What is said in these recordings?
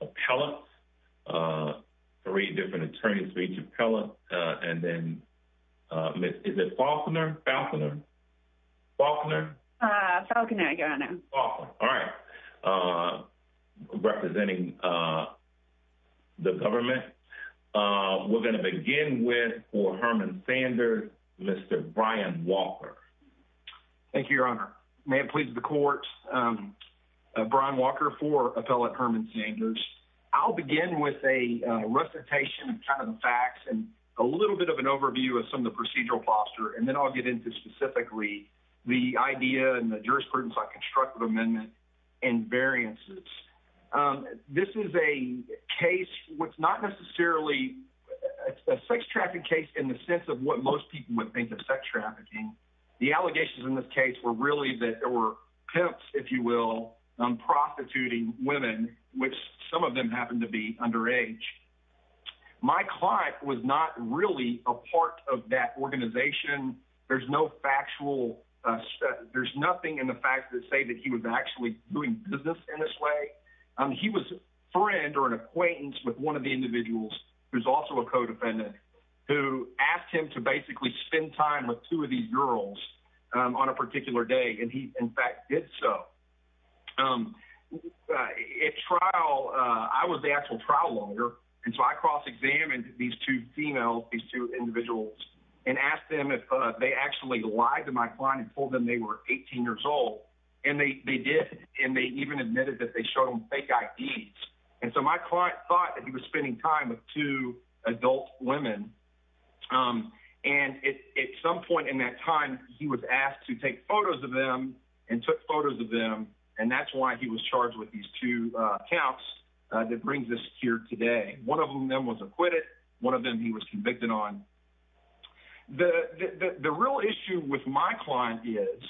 appellate uh three different attorneys for each appellate uh and then uh is it Faulconer? Faulconer. Faulconer? Uh Faulconer, your honor. Faulconer. All right. Uh representing uh the government uh we're going to begin with for Herman Sanders Mr. Brian Walker. Thank you, your honor. May it please the court um uh Brian I'll begin with a uh recitation of kind of the facts and a little bit of an overview of some of the procedural posture and then I'll get into specifically the idea and the jurisprudence on constructive amendment and variances. Um this is a case what's not necessarily a sex trafficking case in the sense of what most people would think of sex trafficking. The allegations in this case were really that there were pimps if you will um prostituting women which some of them happen to be underage. My client was not really a part of that organization. There's no factual uh there's nothing in the facts that say that he was actually doing business in this way. Um he was a friend or an acquaintance with one of the individuals who's also a co-defendant who asked him to basically spend time with two of these girls on a particular day and he in fact did so. Um uh at trial uh I was the actual trial lawyer and so I cross-examined these two females these two individuals and asked them if they actually lied to my client and told them they were 18 years old and they they did and they even admitted that they showed them fake IDs and so my client thought that he was spending time with two adult women um and at some point in that time he was asked to take photos of them and took photos of them and that's why he was charged with these two uh counts that brings us here today. One of them then was acquitted one of them he was convicted on. The the real issue with my client is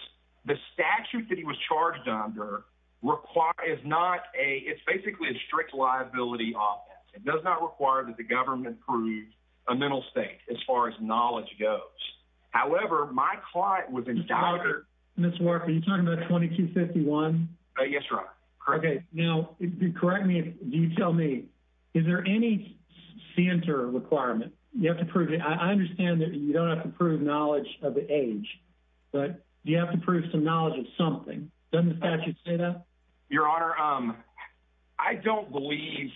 the statute that he was charged under require is not a it's basically a strict liability offense. It does not require that the government prove a mental state as far as knowledge goes. However, my client was in charge. Mr. Walker, are you talking about 2251? Yes, right. Okay now correct me if you tell me is there any center requirement you have to prove it I understand that you don't have to prove knowledge of the age but do you have to prove some knowledge of something doesn't say that your honor um I don't believe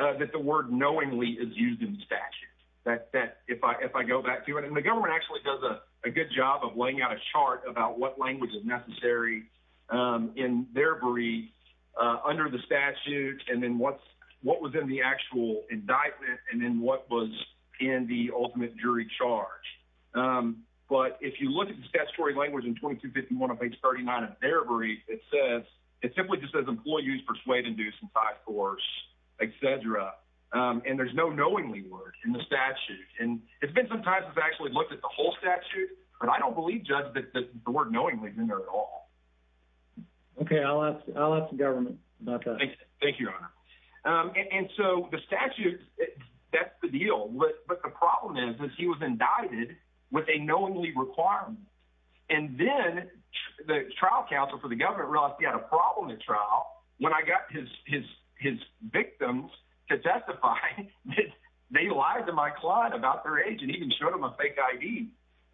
uh that the word knowingly is used in statute that that if I if I go back to it and the government actually does a good job of laying out a chart about what language is necessary um in their briefs uh under the statute and then what's what was in the actual indictment and then what was in the ultimate jury charge um but if you look at the statutory language in 2251 of page 39 of their brief it says it simply just says employees persuade induce in five course etc um and there's no knowingly word in the statute and it's been sometimes it's actually looked at the whole statute but I don't believe judge that the word knowingly is in there at all okay I'll ask I'll ask the government about that thank you thank you your honor um and so the statute that's the deal but but the problem is that he was indicted with a knowingly requirement and then the trial counsel for the government realized he had a problem at trial when I got his his his victims to testify that they lied to my client about their age and even showed him a fake id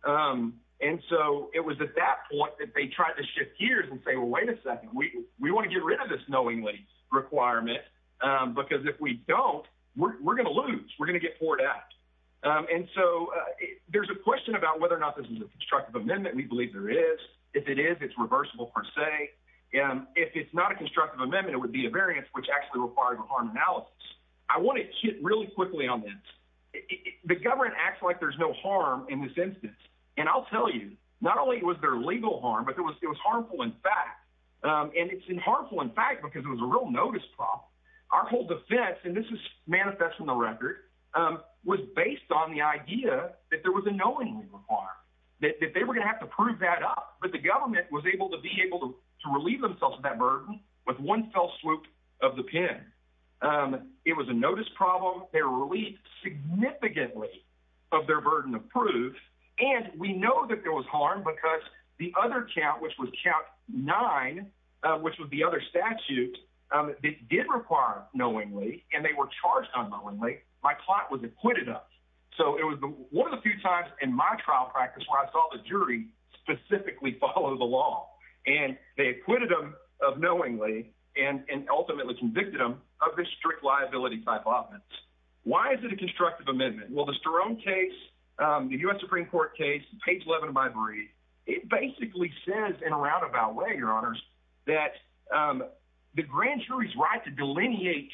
um and so it was at that point that they tried to shift gears and say well wait a second we we want to get rid of this knowingly requirement um because if we don't we're gonna lose we're gonna get poured out um and so uh there's a question about whether or not this is a constructive amendment we believe there is if it is it's reversible per se and if it's not a constructive amendment it would be a variance which actually requires a harm analysis I want to hit really quickly on this the government acts like there's no harm in this instance and I'll tell you not only was there legal harm but it was it was harmful in fact um and it's harmful in fact because it was a real notice prop our whole defense and this is manifest on the record um was based on the idea that there was a knowingly requirement that they were going to have to prove that up but the government was able to be able to to relieve themselves of that burden with one fell swoop of the pen um it was a notice problem they were relieved significantly of their burden of proof and we know that there was harm because the other count which was count nine uh which was the other statute um that did require knowingly and they were charged unknowingly my plot was acquitted us so it was one of the few times in my trial practice where I saw the jury specifically follow the law and they acquitted them of knowingly and and ultimately convicted them of this strict liability type offense why is it a constructive amendment well the sterone case um the u.s supreme court case page 11 of my brief it basically says in a roundabout way your honors that um the grand jury's right to delineate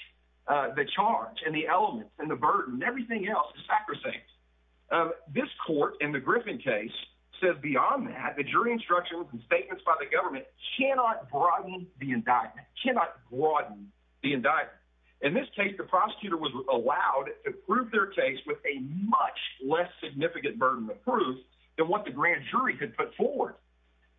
uh the charge and the elements and the burden everything else is sacrosanct um this court in the griffin case says beyond that the jury instructions and statements by the government cannot broaden the indictment cannot broaden the indictment in this case the prosecutor was allowed to prove their case with a much less significant burden of proof than what the grand jury could put forward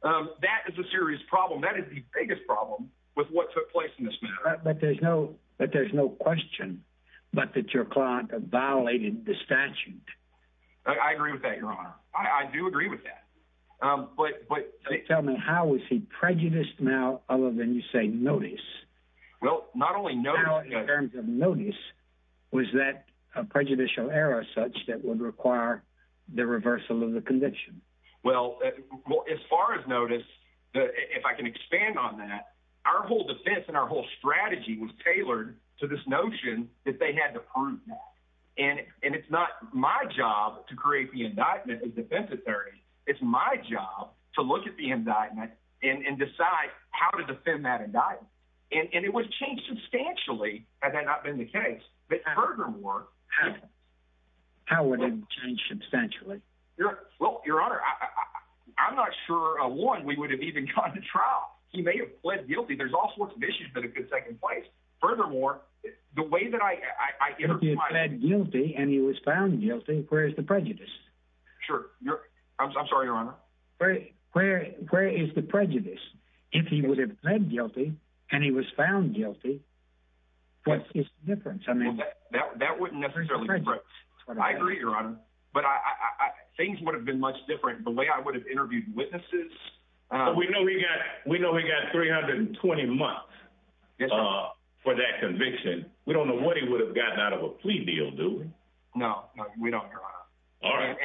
um that is a serious problem that is the biggest problem with what took place in this matter but there's no but there's no question but that your client violated the statute I agree with that your honor I do agree with that um but but tell me how is he prejudiced now other than you say notice well not only no in terms of notice was that a prejudicial error such that would require the reversal of the conviction well as far as notice that if I can expand on that our whole defense and our whole strategy was tailored to this notion that they had to prove that and and it's not my job to create the indictment of defense authority it's my job to look at the indictment and and decide how to defend that indictment and it would change substantially had that not been the case but furthermore how would it change substantially your well your honor I I'm not sure uh one we would have even gone to trial he may have pled guilty there's all sorts of issues but a good second place furthermore the way that I I interviewed guilty and he was found guilty where's the prejudice sure I'm sorry your honor where where where is the prejudice if he would have pled guilty and he was found guilty what is the difference I mean that that wouldn't necessarily be right I agree your honor but I I I things would have been much different the way I would have interviewed witnesses we know we got we know we got 320 months uh for that conviction we don't know what he would have gotten out of a plea deal do we no no we don't your honor all right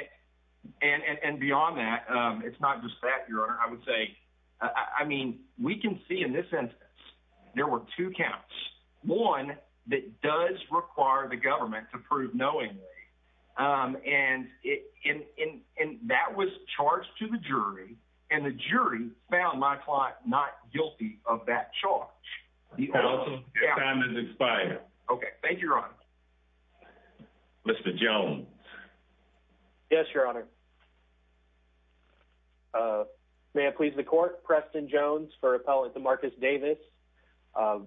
and and and beyond that um it's not just that your honor I would say I mean we can see in this instance there were two counts one that does require the government to prove knowingly um and it in in in that was charged to the jury and the jury found my client not guilty of that charge the time has expired okay thank you your honor Mr. Jones yes your honor uh may I please the court Preston Jones for appellate to Marcus Davis um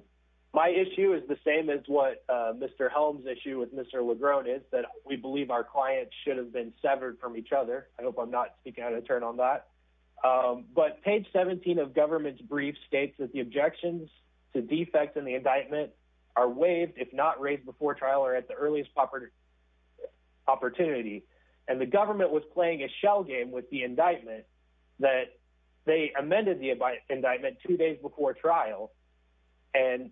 my issue is the same as what uh Mr. Helms issue with Mr. Legrone is that we believe our clients should have been severed from each other I hope I'm not speaking out of turn on that um but page 17 of government's to defects in the indictment are waived if not raised before trial or at the earliest opportunity and the government was playing a shell game with the indictment that they amended the indictment two days before trial and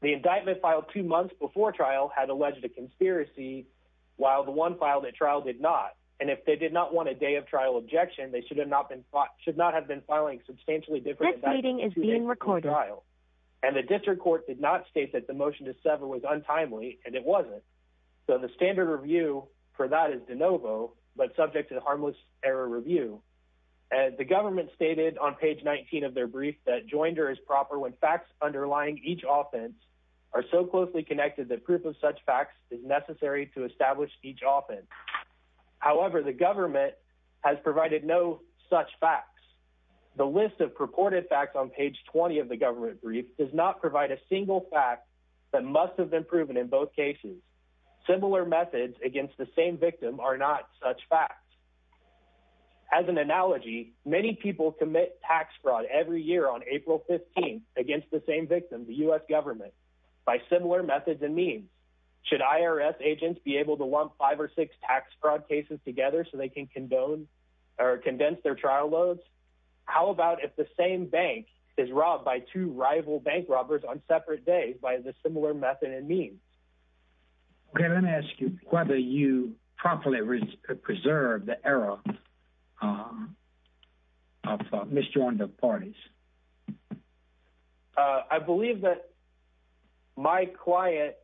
the indictment filed two months before trial had alleged a conspiracy while the one filed at trial did not and if they did not want a day of trial objection they should have not been fought should not have been filing this meeting is being recorded trial and the district court did not state that the motion to sever was untimely and it wasn't so the standard review for that is de novo but subject to the harmless error review and the government stated on page 19 of their brief that joinder is proper when facts underlying each offense are so closely connected that proof of such facts is necessary to establish each offense however the government has provided no such facts the list of purported facts on page 20 of the government brief does not provide a single fact that must have been proven in both cases similar methods against the same victim are not such facts as an analogy many people commit tax fraud every year on april 15th against the same victim the u.s government by similar methods and means should irs agents be able to lump five or six tax fraud cases together so they can condone or condense their trial loads how about if the same bank is robbed by two rival bank robbers on separate days by the similar method and means okay let me ask you whether you properly preserve the error um i've thought mr one of the parties uh i believe that my quiet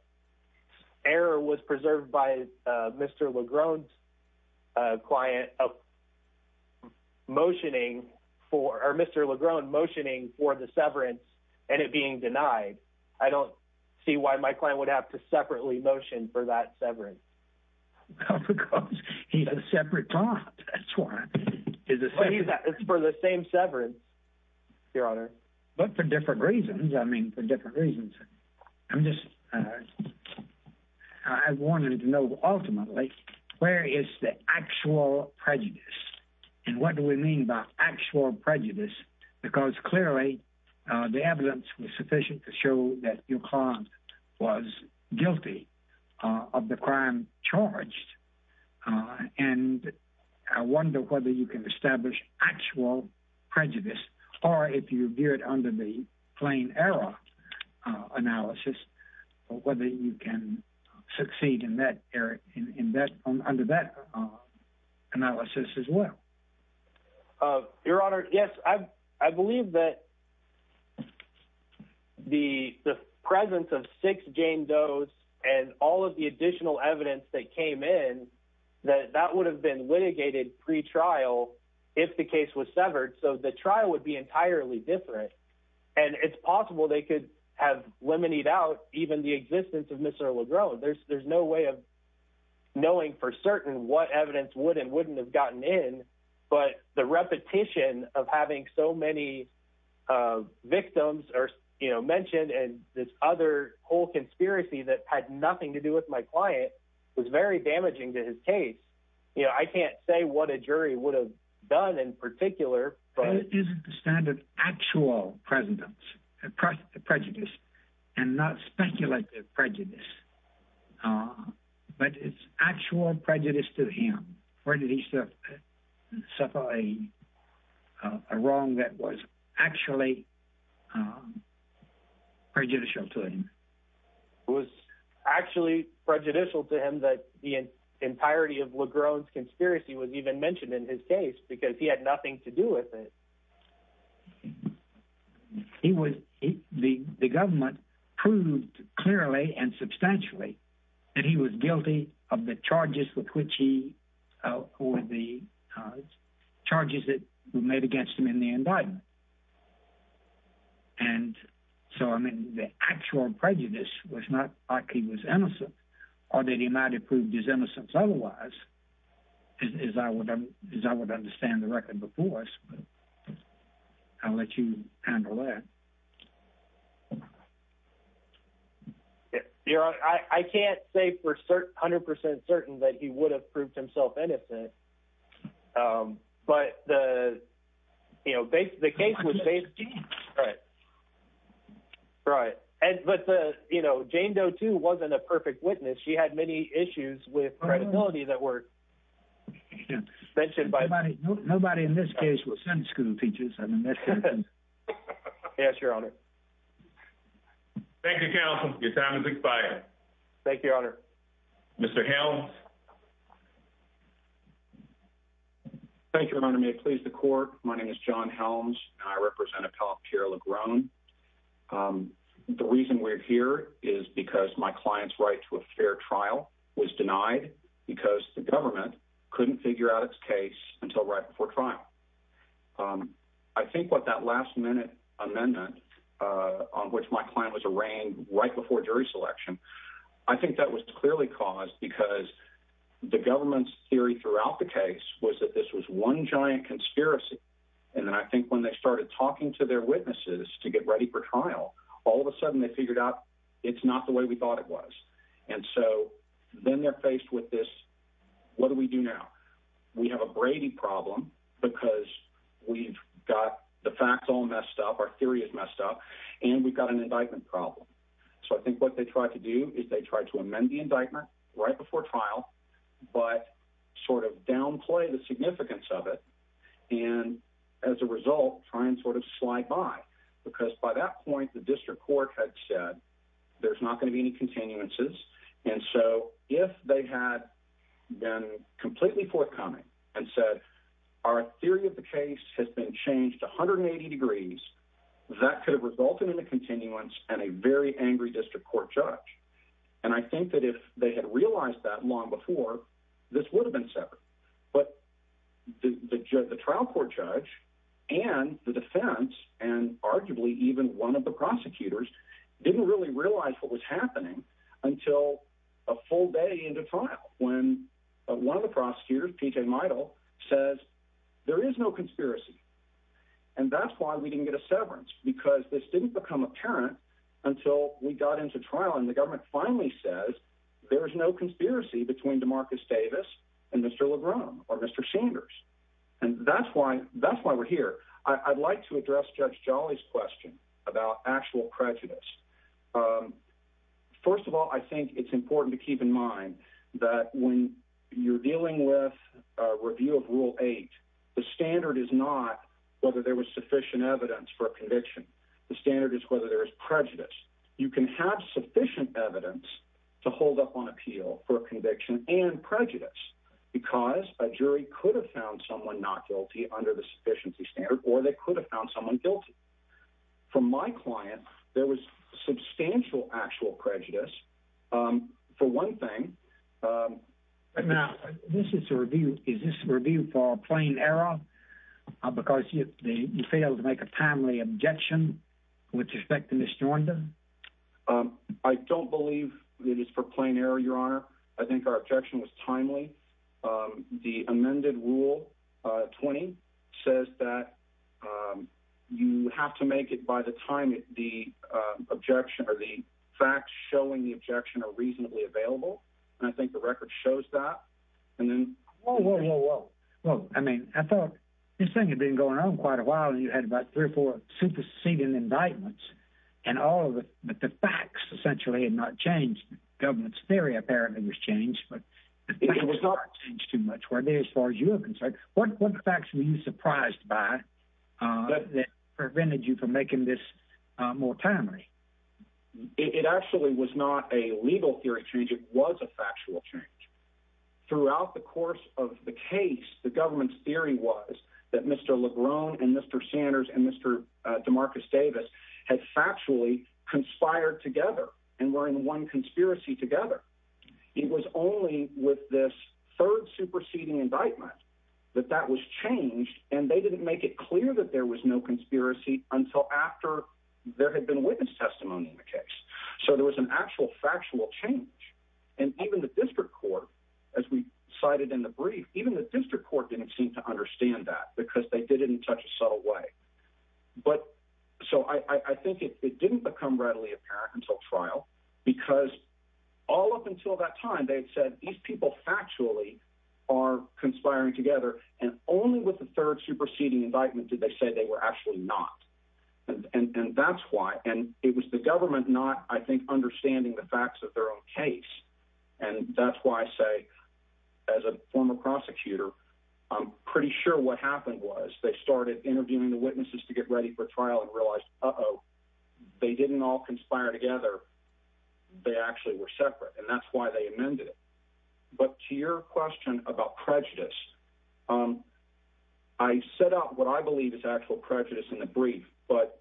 error was preserved by uh mr legron's uh client of motioning for or mr legron motioning for the severance and it being denied i don't see why my client would have to separately motion for that severance well because he's a separate time that's why it's for the same severance your honor but for different reasons i mean for different reasons i'm just uh i wanted to know ultimately where is the actual prejudice and what do we mean by actual prejudice because clearly uh the evidence was uh and i wonder whether you can establish actual prejudice or if you view it under the plain error analysis whether you can succeed in that area in that under that analysis as well uh your honor yes i i believe that the the presence of six jane does and all of the additional evidence that came in that that would have been litigated pre-trial if the case was severed so the trial would be entirely different and it's possible they could have limited out even the existence of mr legron there's there's no way of knowing for certain what evidence would and wouldn't have gotten in but the repetition of having so many uh victims are you know mentioned and this other whole conspiracy that had nothing to do with my client was very damaging to his case you know i can't say what a jury would have done in particular but it isn't the standard actual presence across the prejudice and not speculative prejudice uh but it's actual prejudice to him where did he suffer suffer a wrong that was actually um prejudicial to him it was actually prejudicial to him that the entirety of legron's conspiracy was even mentioned in his case because he had nothing to do with it he was the the government proved clearly and substantially that he was guilty of the charges with which he uh or the uh charges that were made against him in the indictment and so i mean the actual prejudice was not like he was innocent or that he might have proved his innocence otherwise as i would as i would understand the record before us i'll let you handle that um you're on i i can't say for certain 100 certain that he would have proved himself innocent um but the you know the case was right right and but the you know jane doe too wasn't a perfect witness she had many issues with credibility that were mentioned by nobody nobody in this case was in school teachers i mean yes your honor thank you counsel your time is expired thank you honor mr helms thank you your honor may it please the court my name is john helms and i represent appellate pierre legron um the reason we're here is because my client's right to a fair trial was denied because the government couldn't figure out its case until right before trial um i think what that last minute amendment uh on which my client was arraigned right before jury selection i think that was clearly caused because the government's theory throughout the case was that this was one giant conspiracy and then i think when they started talking to their witnesses to get ready for trial all of a sudden they figured out it's not the way we thought it and so then they're faced with this what do we do now we have a brady problem because we've got the facts all messed up our theory is messed up and we've got an indictment problem so i think what they tried to do is they tried to amend the indictment right before trial but sort of downplay the significance of it and as a result try and sort of slide by because by that point the district court had said there's not going to be any continuances and so if they had been completely forthcoming and said our theory of the case has been changed 180 degrees that could have resulted in a continuance and a very angry district court judge and i think that if they had realized that long before this would have been separate but the judge the trial court judge and the defense and arguably even one of the prosecutors didn't really realize what was happening until a full day into trial when one of the prosecutors p.j mydal says there is no conspiracy and that's why we didn't get a severance because this didn't become apparent until we got into trial and the government finally says there is no conspiracy between demarcus davis and mr lebron or mr sanders and that's why that's why we're here i'd like to address judge jolly's question about actual prejudice um first of all i think it's important to keep in mind that when you're dealing with a review of rule eight the standard is not whether there was sufficient evidence for a conviction the standard is whether there is prejudice you can have sufficient evidence to hold up on appeal for a conviction and prejudice because a jury could have found someone not guilty under the sufficiency standard or they could have found someone guilty from my client there was substantial actual prejudice um for one thing um now this is a review is this review for a plain error because you failed to make a timely objection with respect to miss jordan um i don't believe it is for plain error your honor i think our objection was timely um the amended rule uh 20 says that um you have to make it by the time the uh objection or the facts showing the objection are reasonably available and i think the record shows that and then whoa whoa whoa whoa well i mean i thought this thing had been going on quite a while and you had about three or four superseding indictments and all of it but the facts essentially had not changed government's theory apparently was changed but it was not changed too much where they as far as you have in fact what what facts were you surprised by uh that prevented you from making this uh more timely it actually was not a legal theory change it was a factual change throughout the course of the case the government's theory was that mr lebron and mr sanders and mr uh demarcus davis had factually conspired together and were in one conspiracy together it was only with this third superseding indictment that that was changed and they didn't make it clear that there was no conspiracy until after there had been witness testimony in the case so there was an actual factual change and even the district court as we cited in the brief even the district court didn't seem to understand that because they did it in such a subtle way but so i i think it didn't become readily apparent until trial because all up until that time they had said these people factually are conspiring together and only with the third superseding indictment did they say they were actually not and and that's why and it was the government not i think understanding the facts of their own case and that's why i say as a former prosecutor i'm pretty sure what happened was they started interviewing the witnesses to get ready for trial and realized uh-oh they didn't all conspire together they actually were separate and that's why they amended it but to your question about prejudice um i set out what i believe is actual prejudice in the brief but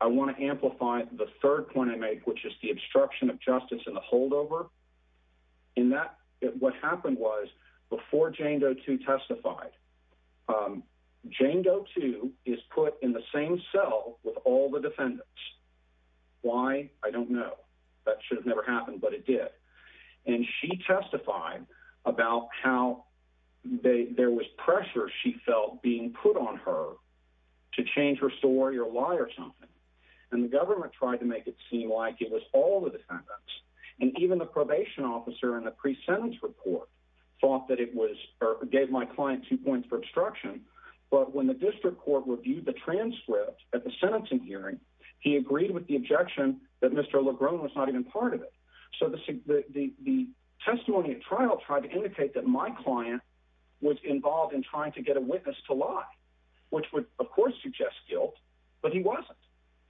i want to amplify the third point i make which is the obstruction of justice and the holdover in that what happened was before jane go to testified um jane go to is put in the same cell with all the defendants why i don't know that should have never happened but it did and she testified about how they there was pressure she felt being put on her to change her story or lie or something and the government tried to make it seem like it was all the defendants and even the probation officer in the pre-sentence report thought that it was or gave my client two points for obstruction but when the district court reviewed the transcript at the sentencing hearing he agreed with the objection that mr lagrone was not even part of it so the the testimony at trial tried to indicate that my client was involved in trying to get a of course suggest guilt but he wasn't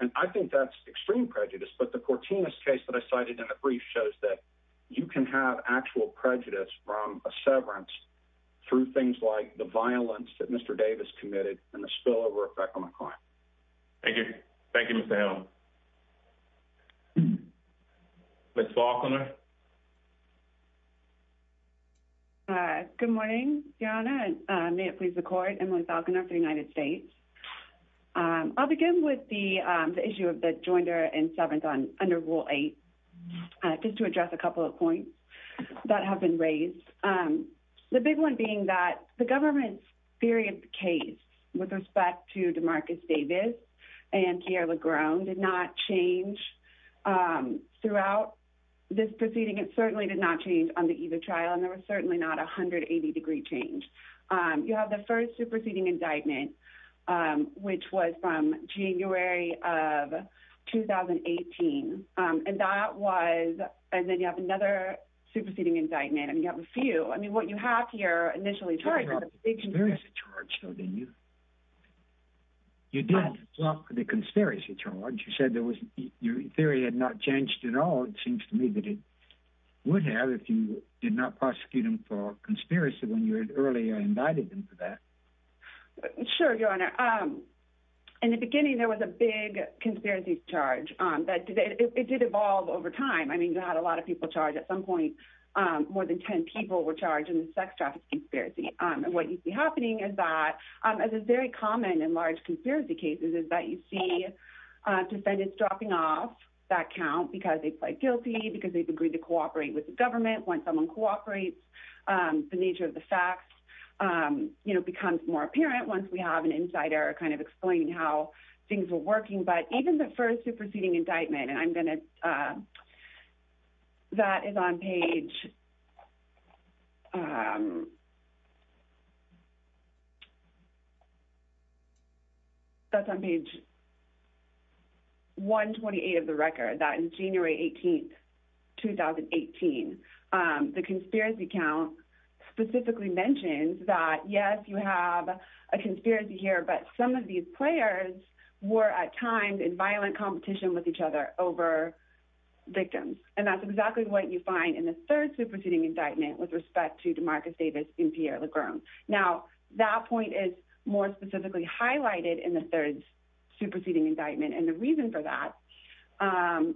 and i think that's extreme prejudice but the courtenous case that i cited in the brief shows that you can have actual prejudice from a severance through things like the violence that mr davis committed and the spillover effect on the client thank you thank you mr hill miss falconer uh good morning diana and uh may it please the court emily falconer for the united states um i'll begin with the um the issue of the joinder and severance on under rule eight just to address a couple of points that have been raised um the big one being that the government's theory of the case with respect to demarcus davis and pierre lagrone did not change um throughout this proceeding it certainly did not change on the eve of trial and there was certainly not 180 degree change um you have the first superseding indictment um which was from january of 2018 um and that was and then you have another superseding indictment and you have a few i mean what you have here initially charged with a big conspiracy charge though didn't you you did the conspiracy charge you said there was your theory had not changed at all it seems to me would have if you did not prosecute him for conspiracy when you had earlier invited him to that sure your honor um in the beginning there was a big conspiracy charge um that it did evolve over time i mean you had a lot of people charged at some point um more than 10 people were charged in the sex traffic conspiracy um and what you see happening is that um as is very common in large conspiracy cases is that you see uh defendants dropping off that count because they pled guilty because they've agreed to cooperate with the government when someone cooperates um the nature of the facts um you know becomes more apparent once we have an insider kind of explaining how things were working but even the first superseding indictment and i'm gonna uh that is on page um that's on page 128 of the record that in january 18th 2018 um the conspiracy count specifically mentions that yes you have a conspiracy here but some of these players were at times in violent competition with each other over victims and that's exactly what you find in the third superseding indictment with respect to demarcus davis and pierre legron now that point is more specifically highlighted in the third superseding indictment and the reason for that um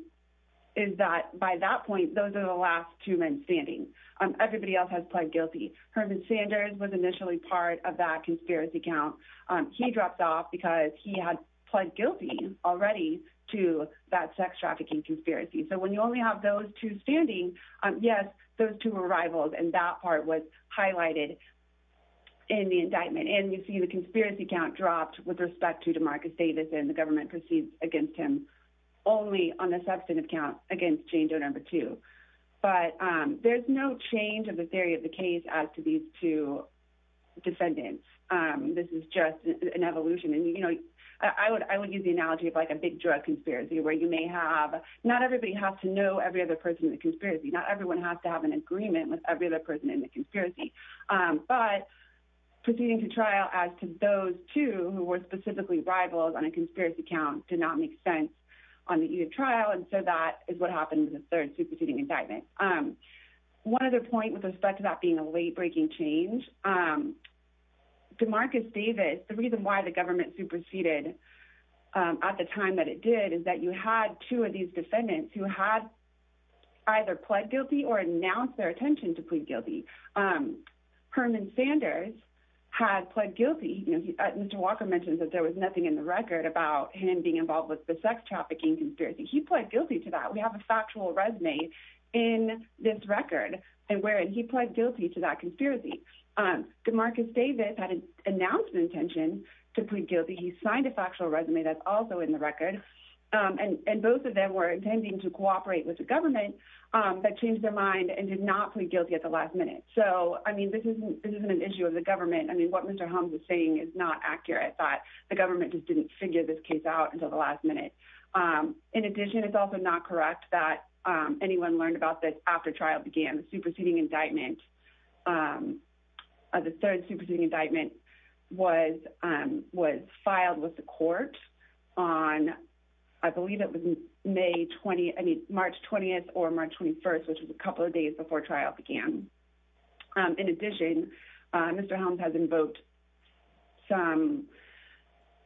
is that by that point those are the last two men standing um everybody else has pled guilty herman sanders was initially part of that conspiracy count um he drops off because he had already to that sex trafficking conspiracy so when you only have those two standing um yes those two arrivals and that part was highlighted in the indictment and you see the conspiracy count dropped with respect to demarcus davis and the government proceeds against him only on the substantive count against jane doe number two but um there's no change of the theory as to these two defendants um this is just an evolution and you know i would i would use the analogy of like a big drug conspiracy where you may have not everybody has to know every other person in the conspiracy not everyone has to have an agreement with every other person in the conspiracy um but proceeding to trial as to those two who were specifically rivals on a conspiracy count did not make sense on the trial and so that is what happened with the third superseding indictment um one other point with respect to that being a late breaking change um demarcus davis the reason why the government superseded um at the time that it did is that you had two of these defendants who had either pled guilty or announced their attention to plead guilty um herman sanders had pled guilty you know mr walker mentions that there was nothing in the record about him being involved with the sex trafficking conspiracy he pled guilty to that we have a in this record and wherein he pled guilty to that conspiracy um demarcus davis had an announcement intention to plead guilty he signed a factual resume that's also in the record and and both of them were intending to cooperate with the government um that changed their mind and did not plead guilty at the last minute so i mean this isn't this isn't an issue of the government i mean what mr hums is saying is not accurate that the government just didn't figure this case out until the last minute um in addition it's also not correct that um anyone learned about this after trial began the superseding indictment um the third superseding indictment was um was filed with the court on i believe it was may 20 i mean march 20th or march 21st which was a couple of days before trial began um in addition uh mr helms has invoked some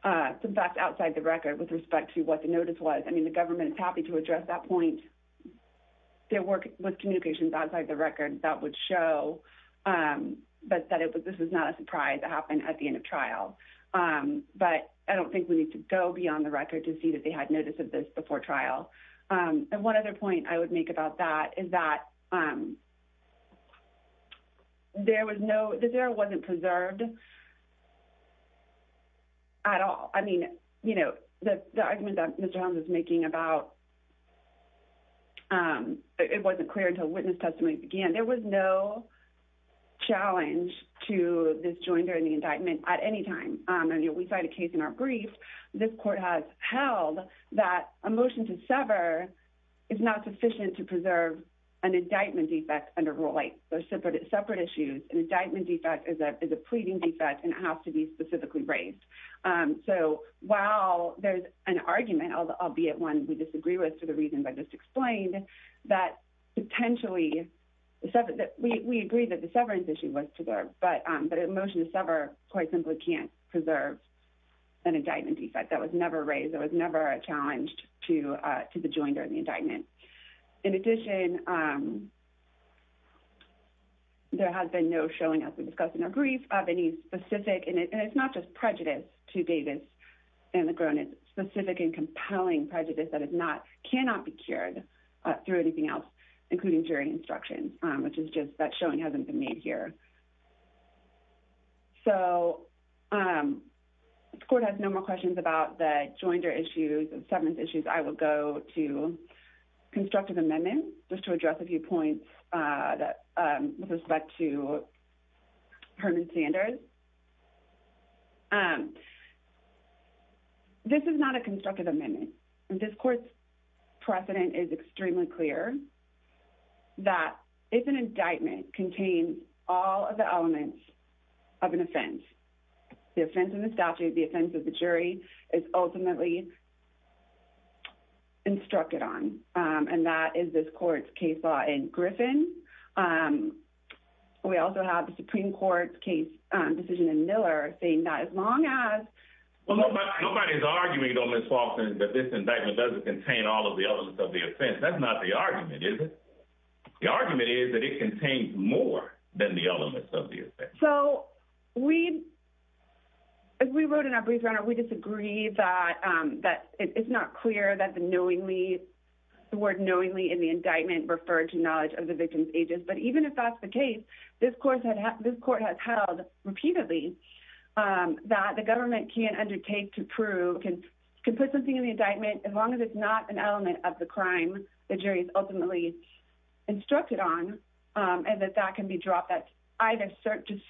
uh some facts outside the record with respect to what the notice was i mean the government is happy to address that point their work with communications outside the record that would show um but that it was this was not a surprise to happen at the end of trial um but i don't think we need to go beyond the record to see that they had notice of this before trial um and one other point i would make about that is that um there was no that there wasn't preserved at all i mean you know the the argument that mr hums is making about um it wasn't clear until witness testimony began there was no challenge to this join during the indictment at any time um and we cite a case in our brief this court has held that a motion to sever is not sufficient to preserve an indictment defect under rule eight those separate separate issues an indictment defect is a pleading defect and it has to be specifically raised um so while there's an argument albeit one we disagree with for the reasons i just explained that potentially the seven that we we agree that the severance issue was preserved but um but a motion to sever quite simply can't preserve an indictment defect that was never raised it was never a challenge to uh to the join during the indictment in addition um there has been no showing as we discussed in our brief of any specific and it's not just prejudice to davis and the groan is specific and compelling prejudice that is not cannot be cured uh through anything else including jury instruction um which is just that showing hasn't been made here so um the court has no more questions about the joinder issues and severance issues i will go to constructive amendment just to address a few points uh that um with respect to herman sanders um this is not a constructive amendment this court's precedent is extremely clear that if an indictment contains all of the elements of an offense the offense in the instructed on um and that is this court's case law in griffin um we also have the supreme court's case decision in miller saying that as long as well nobody's arguing though miss falcons that this indictment doesn't contain all of the elements of the offense that's not the argument is it the argument is that it contains more than the elements of the effect so we as we wrote in our brief runner we disagree that um that it's not clear that the knowingly the word knowingly in the indictment referred to knowledge of the victim's ages but even if that's the case this course had this court has held repeatedly um that the government can't undertake to prove can put something in the indictment as long as it's not an element of the crime the jury is ultimately instructed on um and that that can be dropped that either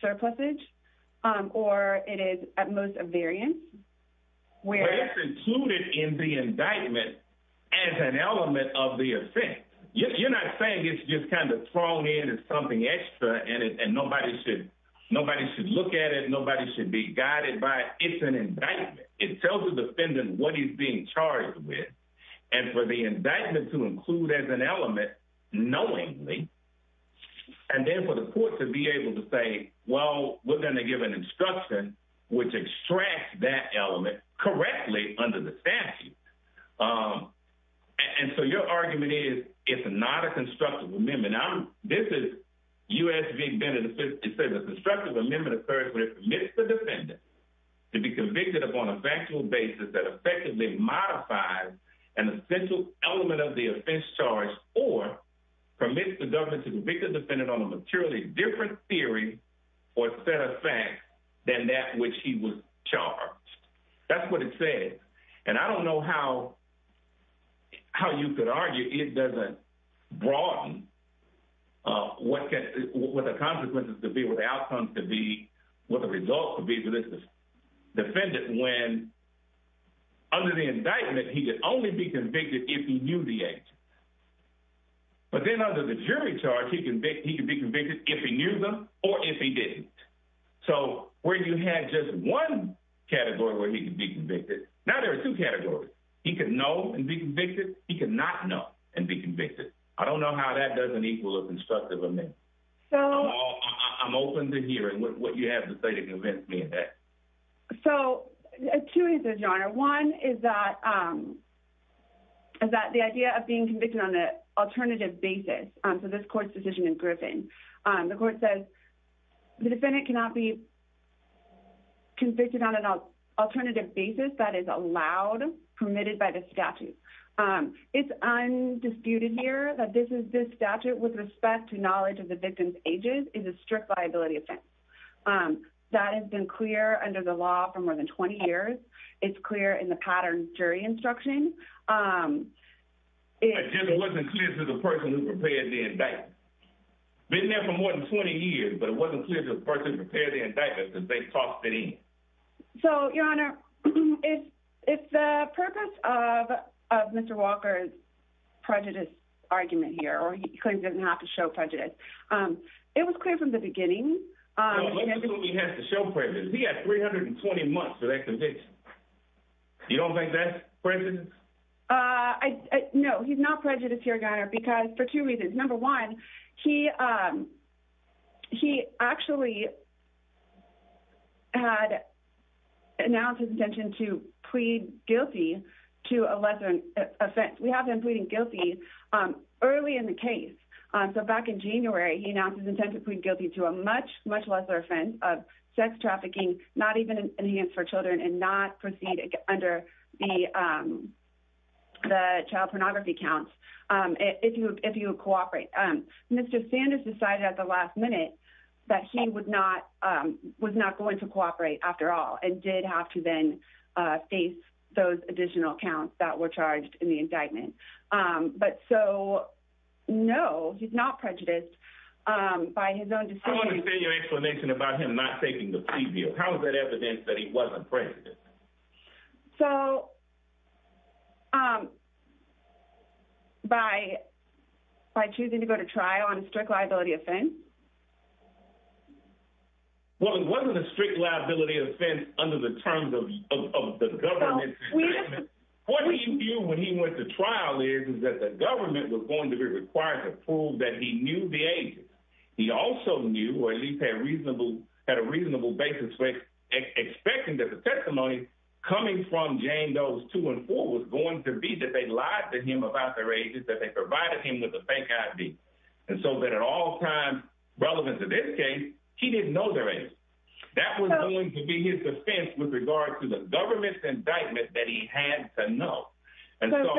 surplusage um or it is at most a variance where it's included in the indictment as an element of the offense you're not saying it's just kind of thrown in as something extra and it and nobody should nobody should look at it nobody should be guided by it's an indictment it tells the defendant what he's being charged with and for the indictment to include as an element knowingly and then for the court to be able to say well we're going to give an instruction which extracts that element correctly under the statute um and so your argument is it's not a constructive amendment i'm this is us being benefited it says the constructive amendment occurs when it permits the defendant to be convicted upon a factual basis that on a materially different theory or set of facts than that which he was charged that's what it says and i don't know how how you could argue it doesn't broaden uh what can what the consequences to be what the outcomes to be what the results to be but this is defendant when under the indictment he could only be convicted if he knew the age but then under the jury charge he convicted he could be convicted if he knew them or if he didn't so where you had just one category where he could be convicted now there are two categories he could know and be convicted he could not know and be convicted i don't know how that doesn't equal a constructive amendment so i'm open to hearing what you have to say to convince me of that so two reasons your honor one is that um is that the idea of being convicted on the alternative basis um so this court's decision in griffin um the court says the defendant cannot be convicted on an alternative basis that is allowed permitted by the statute um it's undisputed here that this is this statute with respect to knowledge of the victim's ages is a law for more than 20 years it's clear in the pattern jury instruction um it wasn't clear to the person who prepared the indictment been there for more than 20 years but it wasn't clear to the person prepare the indictment because they tossed it in so your honor it's it's the purpose of of mr walker's prejudice argument here or he claims doesn't have to show prejudice um it was clear from the beginning um he has to show prejudice he has 320 months for that conviction you don't think that's prejudice uh i no he's not prejudiced here garner because for two reasons number one he um he actually had announced his intention to plead guilty to a lesser offense we have been pleading guilty um early in the case um so back in january he announced intent to plead guilty to a much much lesser offense of sex trafficking not even enhanced for children and not proceed under the um the child pornography counts um if you if you cooperate um mr sanders decided at the last minute that he would not um was not going to cooperate after all and did have to then uh face those additional counts that were charged in the indictment um but so no he's not prejudiced um by his own decision i want to say your explanation about him not taking the preview how is that evidence that he wasn't prejudiced so um by by choosing to go to trial on a strict liability offense well it wasn't a strict liability offense under the terms of the government what he knew when he went to trial is that the government was going to be required to prove that he knew the agent he also knew or at least had reasonable had a reasonable basis for expecting that the testimony coming from jane those two and four was going to be that they lied to him about their ages that they provided him with a fake id and so that at all times relevant to this case he didn't know their age that was going to be his defense with regard to the government's indictment that he had to know and so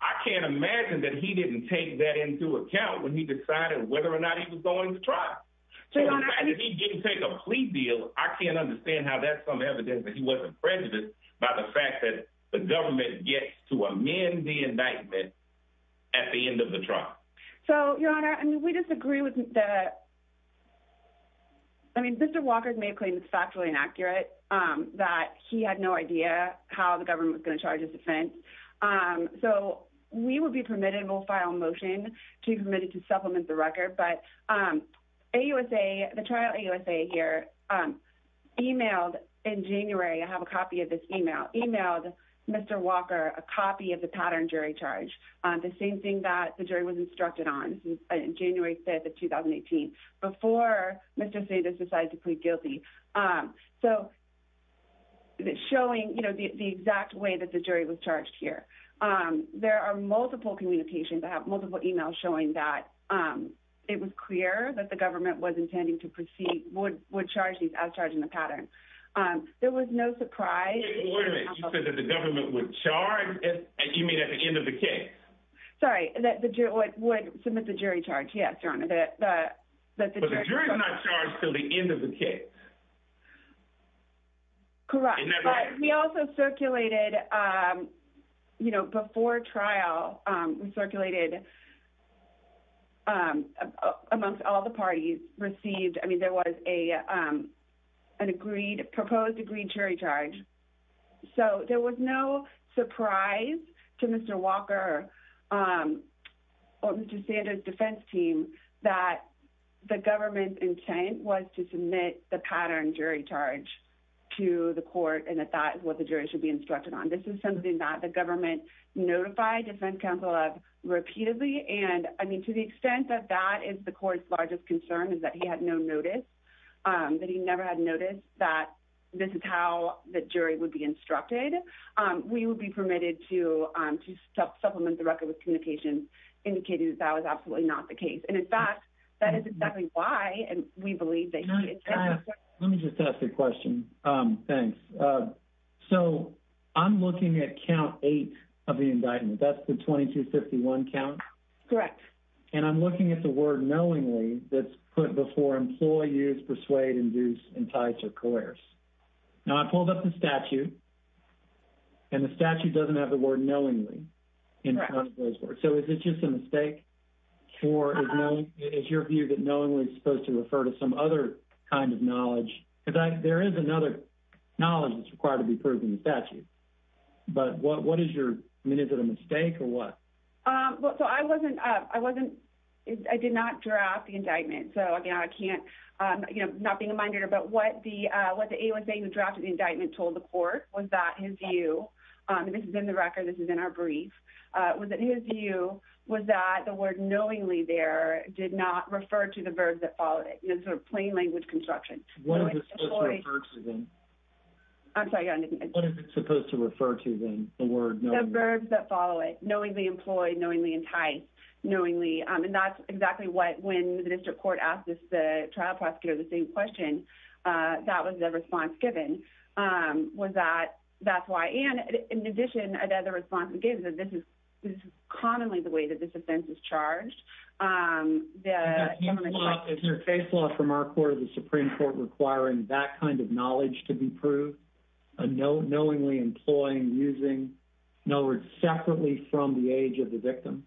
i can't imagine that he didn't take that into account when he decided whether or not he was going to try to take a plea deal i can't understand how that's some evidence that he wasn't prejudiced by the fact that the government gets to amend the indictment at the end of the trial so your honor i mean we disagree with that i mean mr walker may claim it's factually inaccurate um that he had no idea how the government was going to charge his defense um so we will be permitted we'll file a motion to be permitted to supplement the record but um ausa the trial ausa here um emailed in january i have a copy of this email emailed mr walker a copy of the pattern jury charge the same thing that the jury was instructed on this is january 5th of 2018 before mr say this decided to plead guilty um so it's showing you know the exact way that the jury was charged here um there are multiple communications i have multiple emails showing that um it was clear that the government was intending to proceed would would charge these as charging the pattern um there was no surprise you said that the government would charge as you mean at the case sorry that the jury would submit the jury charge yes your honor that the jury's not charged till the end of the case correct but he also circulated um you know before trial um circulated um amongst all the parties received i mean there was a um an agreed proposed agreed jury charge so there was no surprise to mr walker um or mr sanders defense team that the government's intent was to submit the pattern jury charge to the court and that that is what the jury should be instructed on this is something that the government notified defense counsel of repeatedly and i mean to the extent that that is the court's largest concern is that he had no notice um that he never had noticed that this is how the jury would be instructed um we would be permitted to um to supplement the record with communications indicating that that was absolutely not the case and in fact that is exactly why and we believe that let me just ask a question um thanks so i'm looking at count eight of the indictment that's the 2251 count correct and i'm looking at the word knowingly that's put before employee use persuade induce entice or coerce now i pulled up the statute and the statute doesn't have the word knowingly in front of those words so is it just a mistake or is your view that knowingly is supposed to refer to some other kind of knowledge because there is another knowledge that's required to be proven the statute but what what is your i wasn't i did not draft the indictment so again i can't um you know not being a mind reader but what the uh what the a was saying the draft of the indictment told the court was that his view this is in the record this is in our brief uh was it his view was that the word knowingly there did not refer to the verbs that followed it in a sort of plain language construction i'm sorry what is it supposed to refer to then the word the verbs that follow it knowingly employed knowingly enticed knowingly um and that's exactly what when the district court asked us the trial prosecutor the same question uh that was the response given um was that that's why and in addition another response we gave that this is this is commonly the way that this offense is charged um the government is your case law from our court of the supreme court requiring that to be proved a no knowingly employing using no words separately from the age of the victim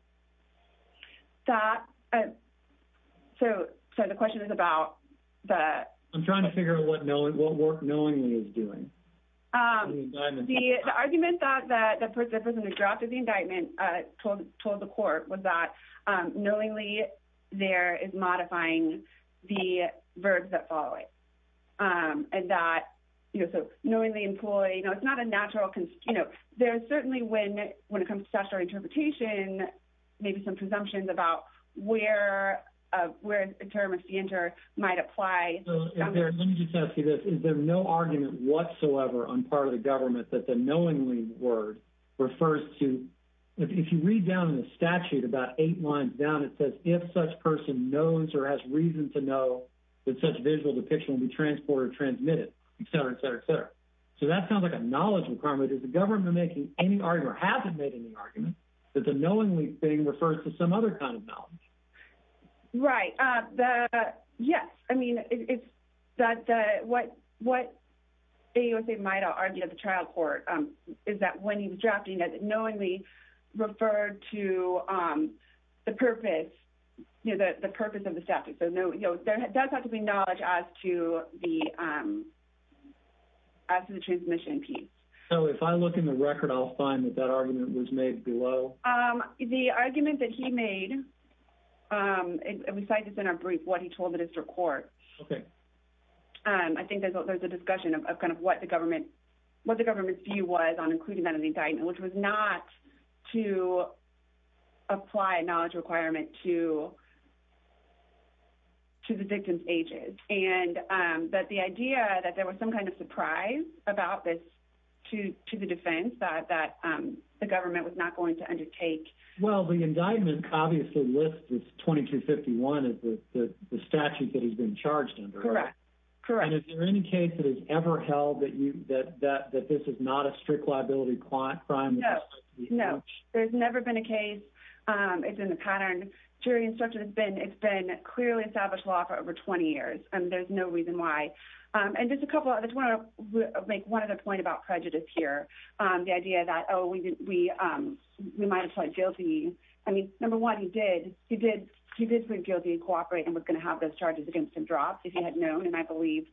that so so the question is about that i'm trying to figure out what knowing what work knowingly is doing um the argument thought that the person who dropped the indictment uh told told the um and that you know so knowingly employed you know it's not a natural you know there's certainly when when it comes to statutory interpretation maybe some presumptions about where uh where a term of standard might apply let me just ask you this is there no argument whatsoever on part of the government that the knowingly word refers to if you read down in the statute about eight lines down it says if such person knows or has reason to know that such visual depiction will be transported transmitted etc etc so that sounds like a knowledge requirement is the government making any argument hasn't made any argument that the knowingly thing refers to some other kind of knowledge right uh the yes i mean it's that uh what what they might argue at the trial is that when he was drafting that knowingly referred to um the purpose you know the purpose of the statute so no you know there does have to be knowledge as to the um as to the transmission piece so if i look in the record i'll find that that argument was made below um the argument that he made um and we cite this in our brief what he told the district court okay um i think there's a discussion of kind of what the government what the government's view was on including that in the indictment which was not to apply a knowledge requirement to to the victim's ages and um that the idea that there was some kind of surprise about this to to the defense that that um the government was not going to undertake well the indictment obviously lists with 2251 as the the statute that he's been charged under correct correct and is there any case that has ever held that you that that that this is not a strict liability crime no no there's never been a case um it's in the pattern jury instruction has been it's been clearly established law for over 20 years and there's no reason why um and just a couple others want to make one other point about prejudice here um the idea that oh we we um we might apply guilty i mean number one he did he was going to have those charges against him dropped if he had known and i believe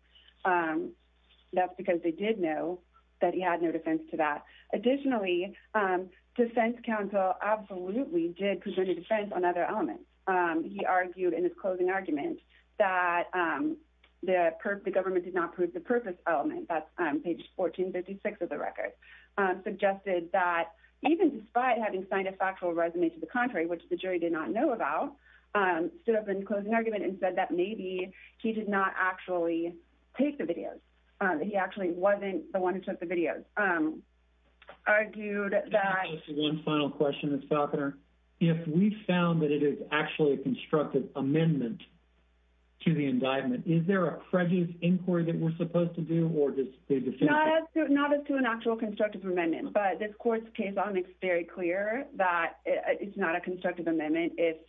um that's because they did know that he had no defense to that additionally um defense counsel absolutely did consider defense on other elements um he argued in his closing argument that um the government did not prove the purpose element that's um page 1456 of the record um suggested that even despite having signed a factual resume to the contrary which the jury did not know about um stood up in closing argument and said that maybe he did not actually take the videos um he actually wasn't the one who took the videos um argued that one final question miss falconer if we found that it is actually a constructive amendment to the indictment is there a prejudice inquiry that we're supposed to do or just not as to an actual constructive amendment but this but if it's a constructive amendment it's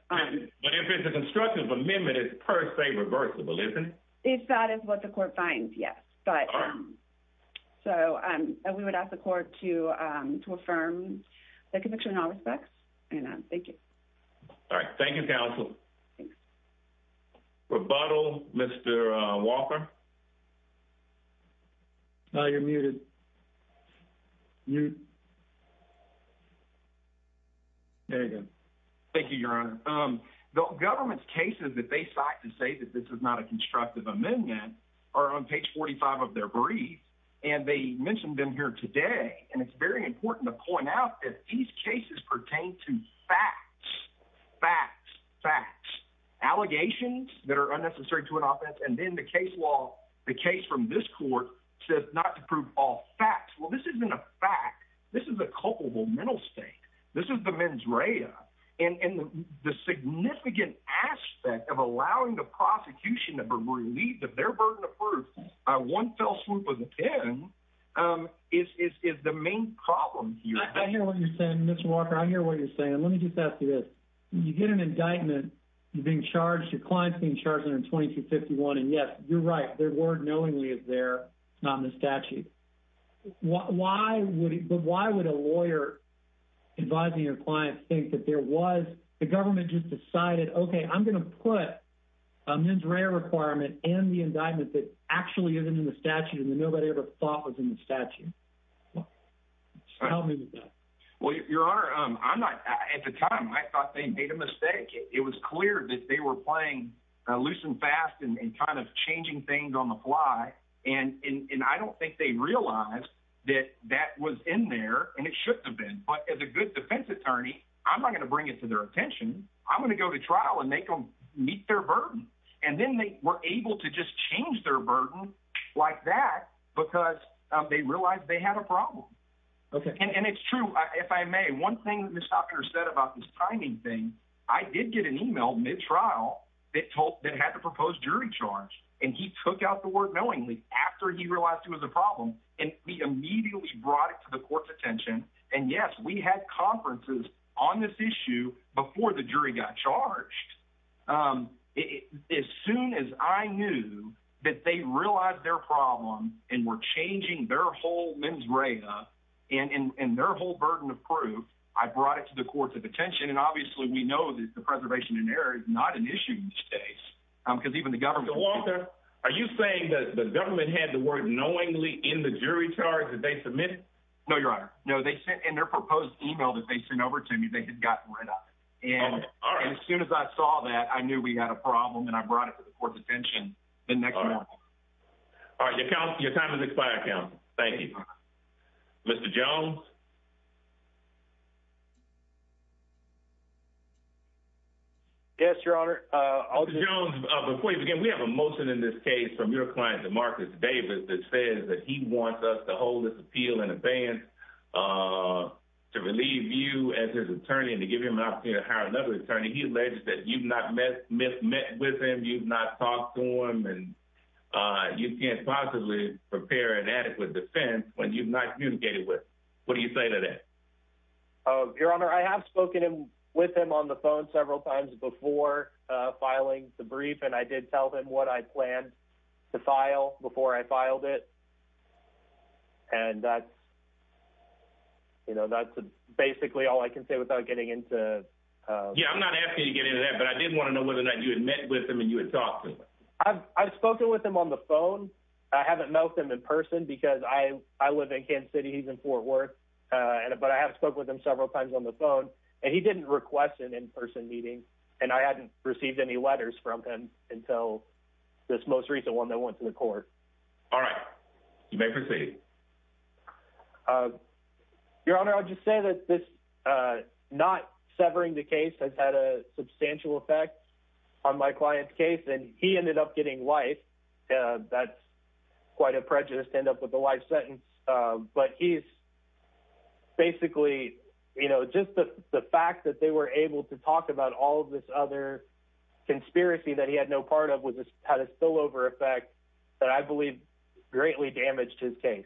per se reversible isn't it if that is what the court finds yes but um so um we would ask the court to um to affirm the conviction in all respects and um thank you all right thank you counsel thanks rebuttal mr uh walker now you're muted you you there you go thank you your honor um the government's cases that they cite to say that this is not a constructive amendment are on page 45 of their brief and they mentioned them here today and it's very important to point out that these cases pertain to facts facts facts allegations that are unnecessary to an offense and then the case law the case from this court says not to prove all facts well this isn't a fact this is a culpable mental state this is the mens rea and and the significant aspect of allowing the prosecution to believe that their burden of proof uh one fell swoop of the pen um is is is the main problem here i hear what you're saying mr walker i hear what you're saying let me just ask you this you get an indictment you're being right their word knowingly is there it's not in the statute why would but why would a lawyer advising your clients think that there was the government just decided okay i'm going to put a mens rea requirement and the indictment that actually isn't in the statute and that nobody ever thought was in the statute well help me with that well your honor um i'm not at the time i thought they made a mistake it was clear that they were playing uh loose and fast and kind of changing things on the fly and and i don't think they realized that that was in there and it should have been but as a good defense attorney i'm not going to bring it to their attention i'm going to go to trial and make them meet their burden and then they were able to just change their burden like that because um they realized they had a problem okay and it's true if i may one thing that mr talker said about this timing thing i did get an email mid-trial that told that had the proposed jury charge and he took out the word knowingly after he realized it was a problem and he immediately brought it to the court's attention and yes we had conferences on this issue before the jury got charged um as soon as i knew that they realized their problem and were changing their whole mens rea and and their whole burden of proof i brought it to the not an issue these days um because even the government are you saying that the government had the word knowingly in the jury charge that they submitted no your honor no they sent in their proposed email that they sent over to me they had gotten rid of it and as soon as i saw that i knew we had a problem and i brought it to the court's attention the next morning all right your time has expired counsel thank you mr jones yes your honor uh before you begin we have a motion in this case from your client demarcus davis that says that he wants us to hold this appeal in advance uh to relieve you as his attorney and to give him an opportunity to hire another attorney he alleged that you've not met with him you've not talked to him and uh you can't possibly prepare an adequate defense when you've not communicated with what do you say to that oh your honor i have spoken with him on the phone several times before uh filing the brief and i did tell them what i planned to file before i filed it and that's you know that's basically all i can say without getting into uh yeah i'm not you had met with him and you had talked to him i've spoken with him on the phone i haven't met with him in person because i i live in kent city he's in fort worth uh and but i have spoke with him several times on the phone and he didn't request an in-person meeting and i hadn't received any letters from him until this most recent one that went to the court all right you may proceed uh your honor i'll just say that this uh not severing the case has had a substantial effect on my client's case and he ended up getting life uh that's quite a prejudice to end up with a life sentence uh but he's basically you know just the the fact that they were able to talk about all of this other conspiracy that he had no part of was had a spillover effect that i believe greatly damaged his case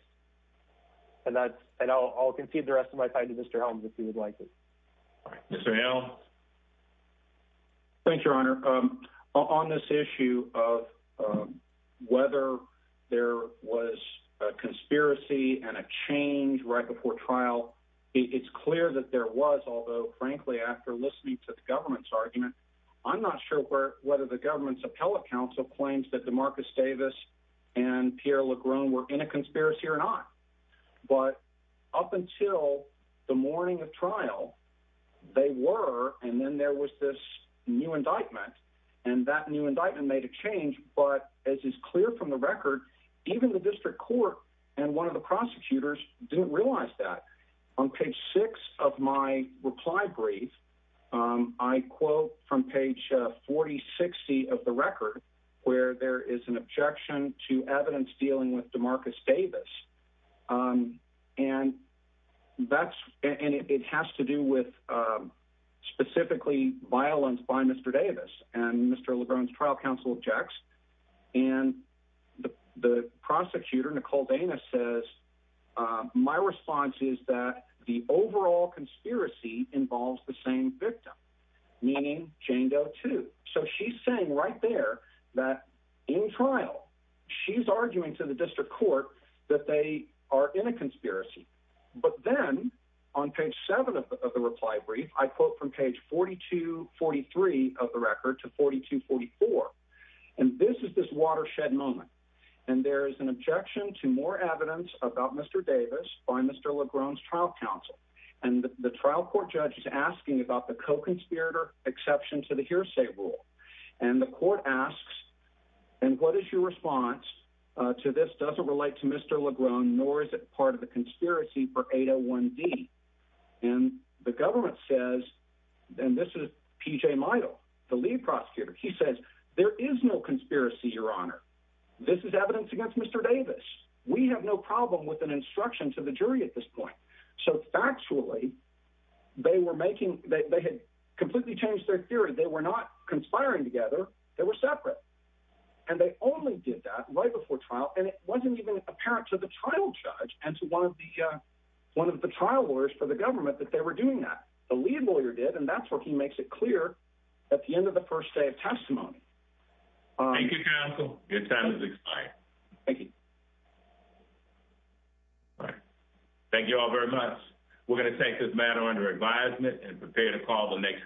and that and i'll concede the rest of my time to mr helms if he would like it all right mr hell thanks your honor um on this issue of um whether there was a conspiracy and a change right before trial it's clear that there was although frankly after listening to the government's argument i'm not sure where whether the government's appellate council claims that demarcus davis and pierre legron were in a conspiracy or not but up until the morning of trial they were and then there was this new indictment and that new indictment made a change but as is clear from the record even the district court and one of the prosecutors didn't realize that on page six of my reply brief um i quote from page uh 40 60 of the record where there is an objection to evidence dealing with demarcus davis um and that's and it has to do with um specifically violence by mr davis and mr lebron's trial counsel objects and the response is that the overall conspiracy involves the same victim meaning jane doe too so she's saying right there that in trial she's arguing to the district court that they are in a conspiracy but then on page seven of the reply brief i quote from page 42 43 of the record to 42 44 and this is this watershed moment and there is an objection to more evidence about mr davis by mr lebron's trial counsel and the trial court judge is asking about the co-conspirator exception to the hearsay rule and the court asks and what is your response uh to this doesn't relate to mr lebron nor is it part of the conspiracy for 801 d and the government says and this is pj myle the lead prosecutor he says there is no conspiracy your honor this is evidence against mr davis we have no problem with an instruction to the jury at this point so factually they were making they had completely changed their theory they were not conspiring together they were separate and they only did that right before trial and it wasn't even apparent to the trial judge and to one of the uh one of the trial lawyers for the government that they were doing that the lead lawyer did and that's where he makes it clear at the end of the first day of thank you all very much we're going to take this matter under advisement and prepare to call the next day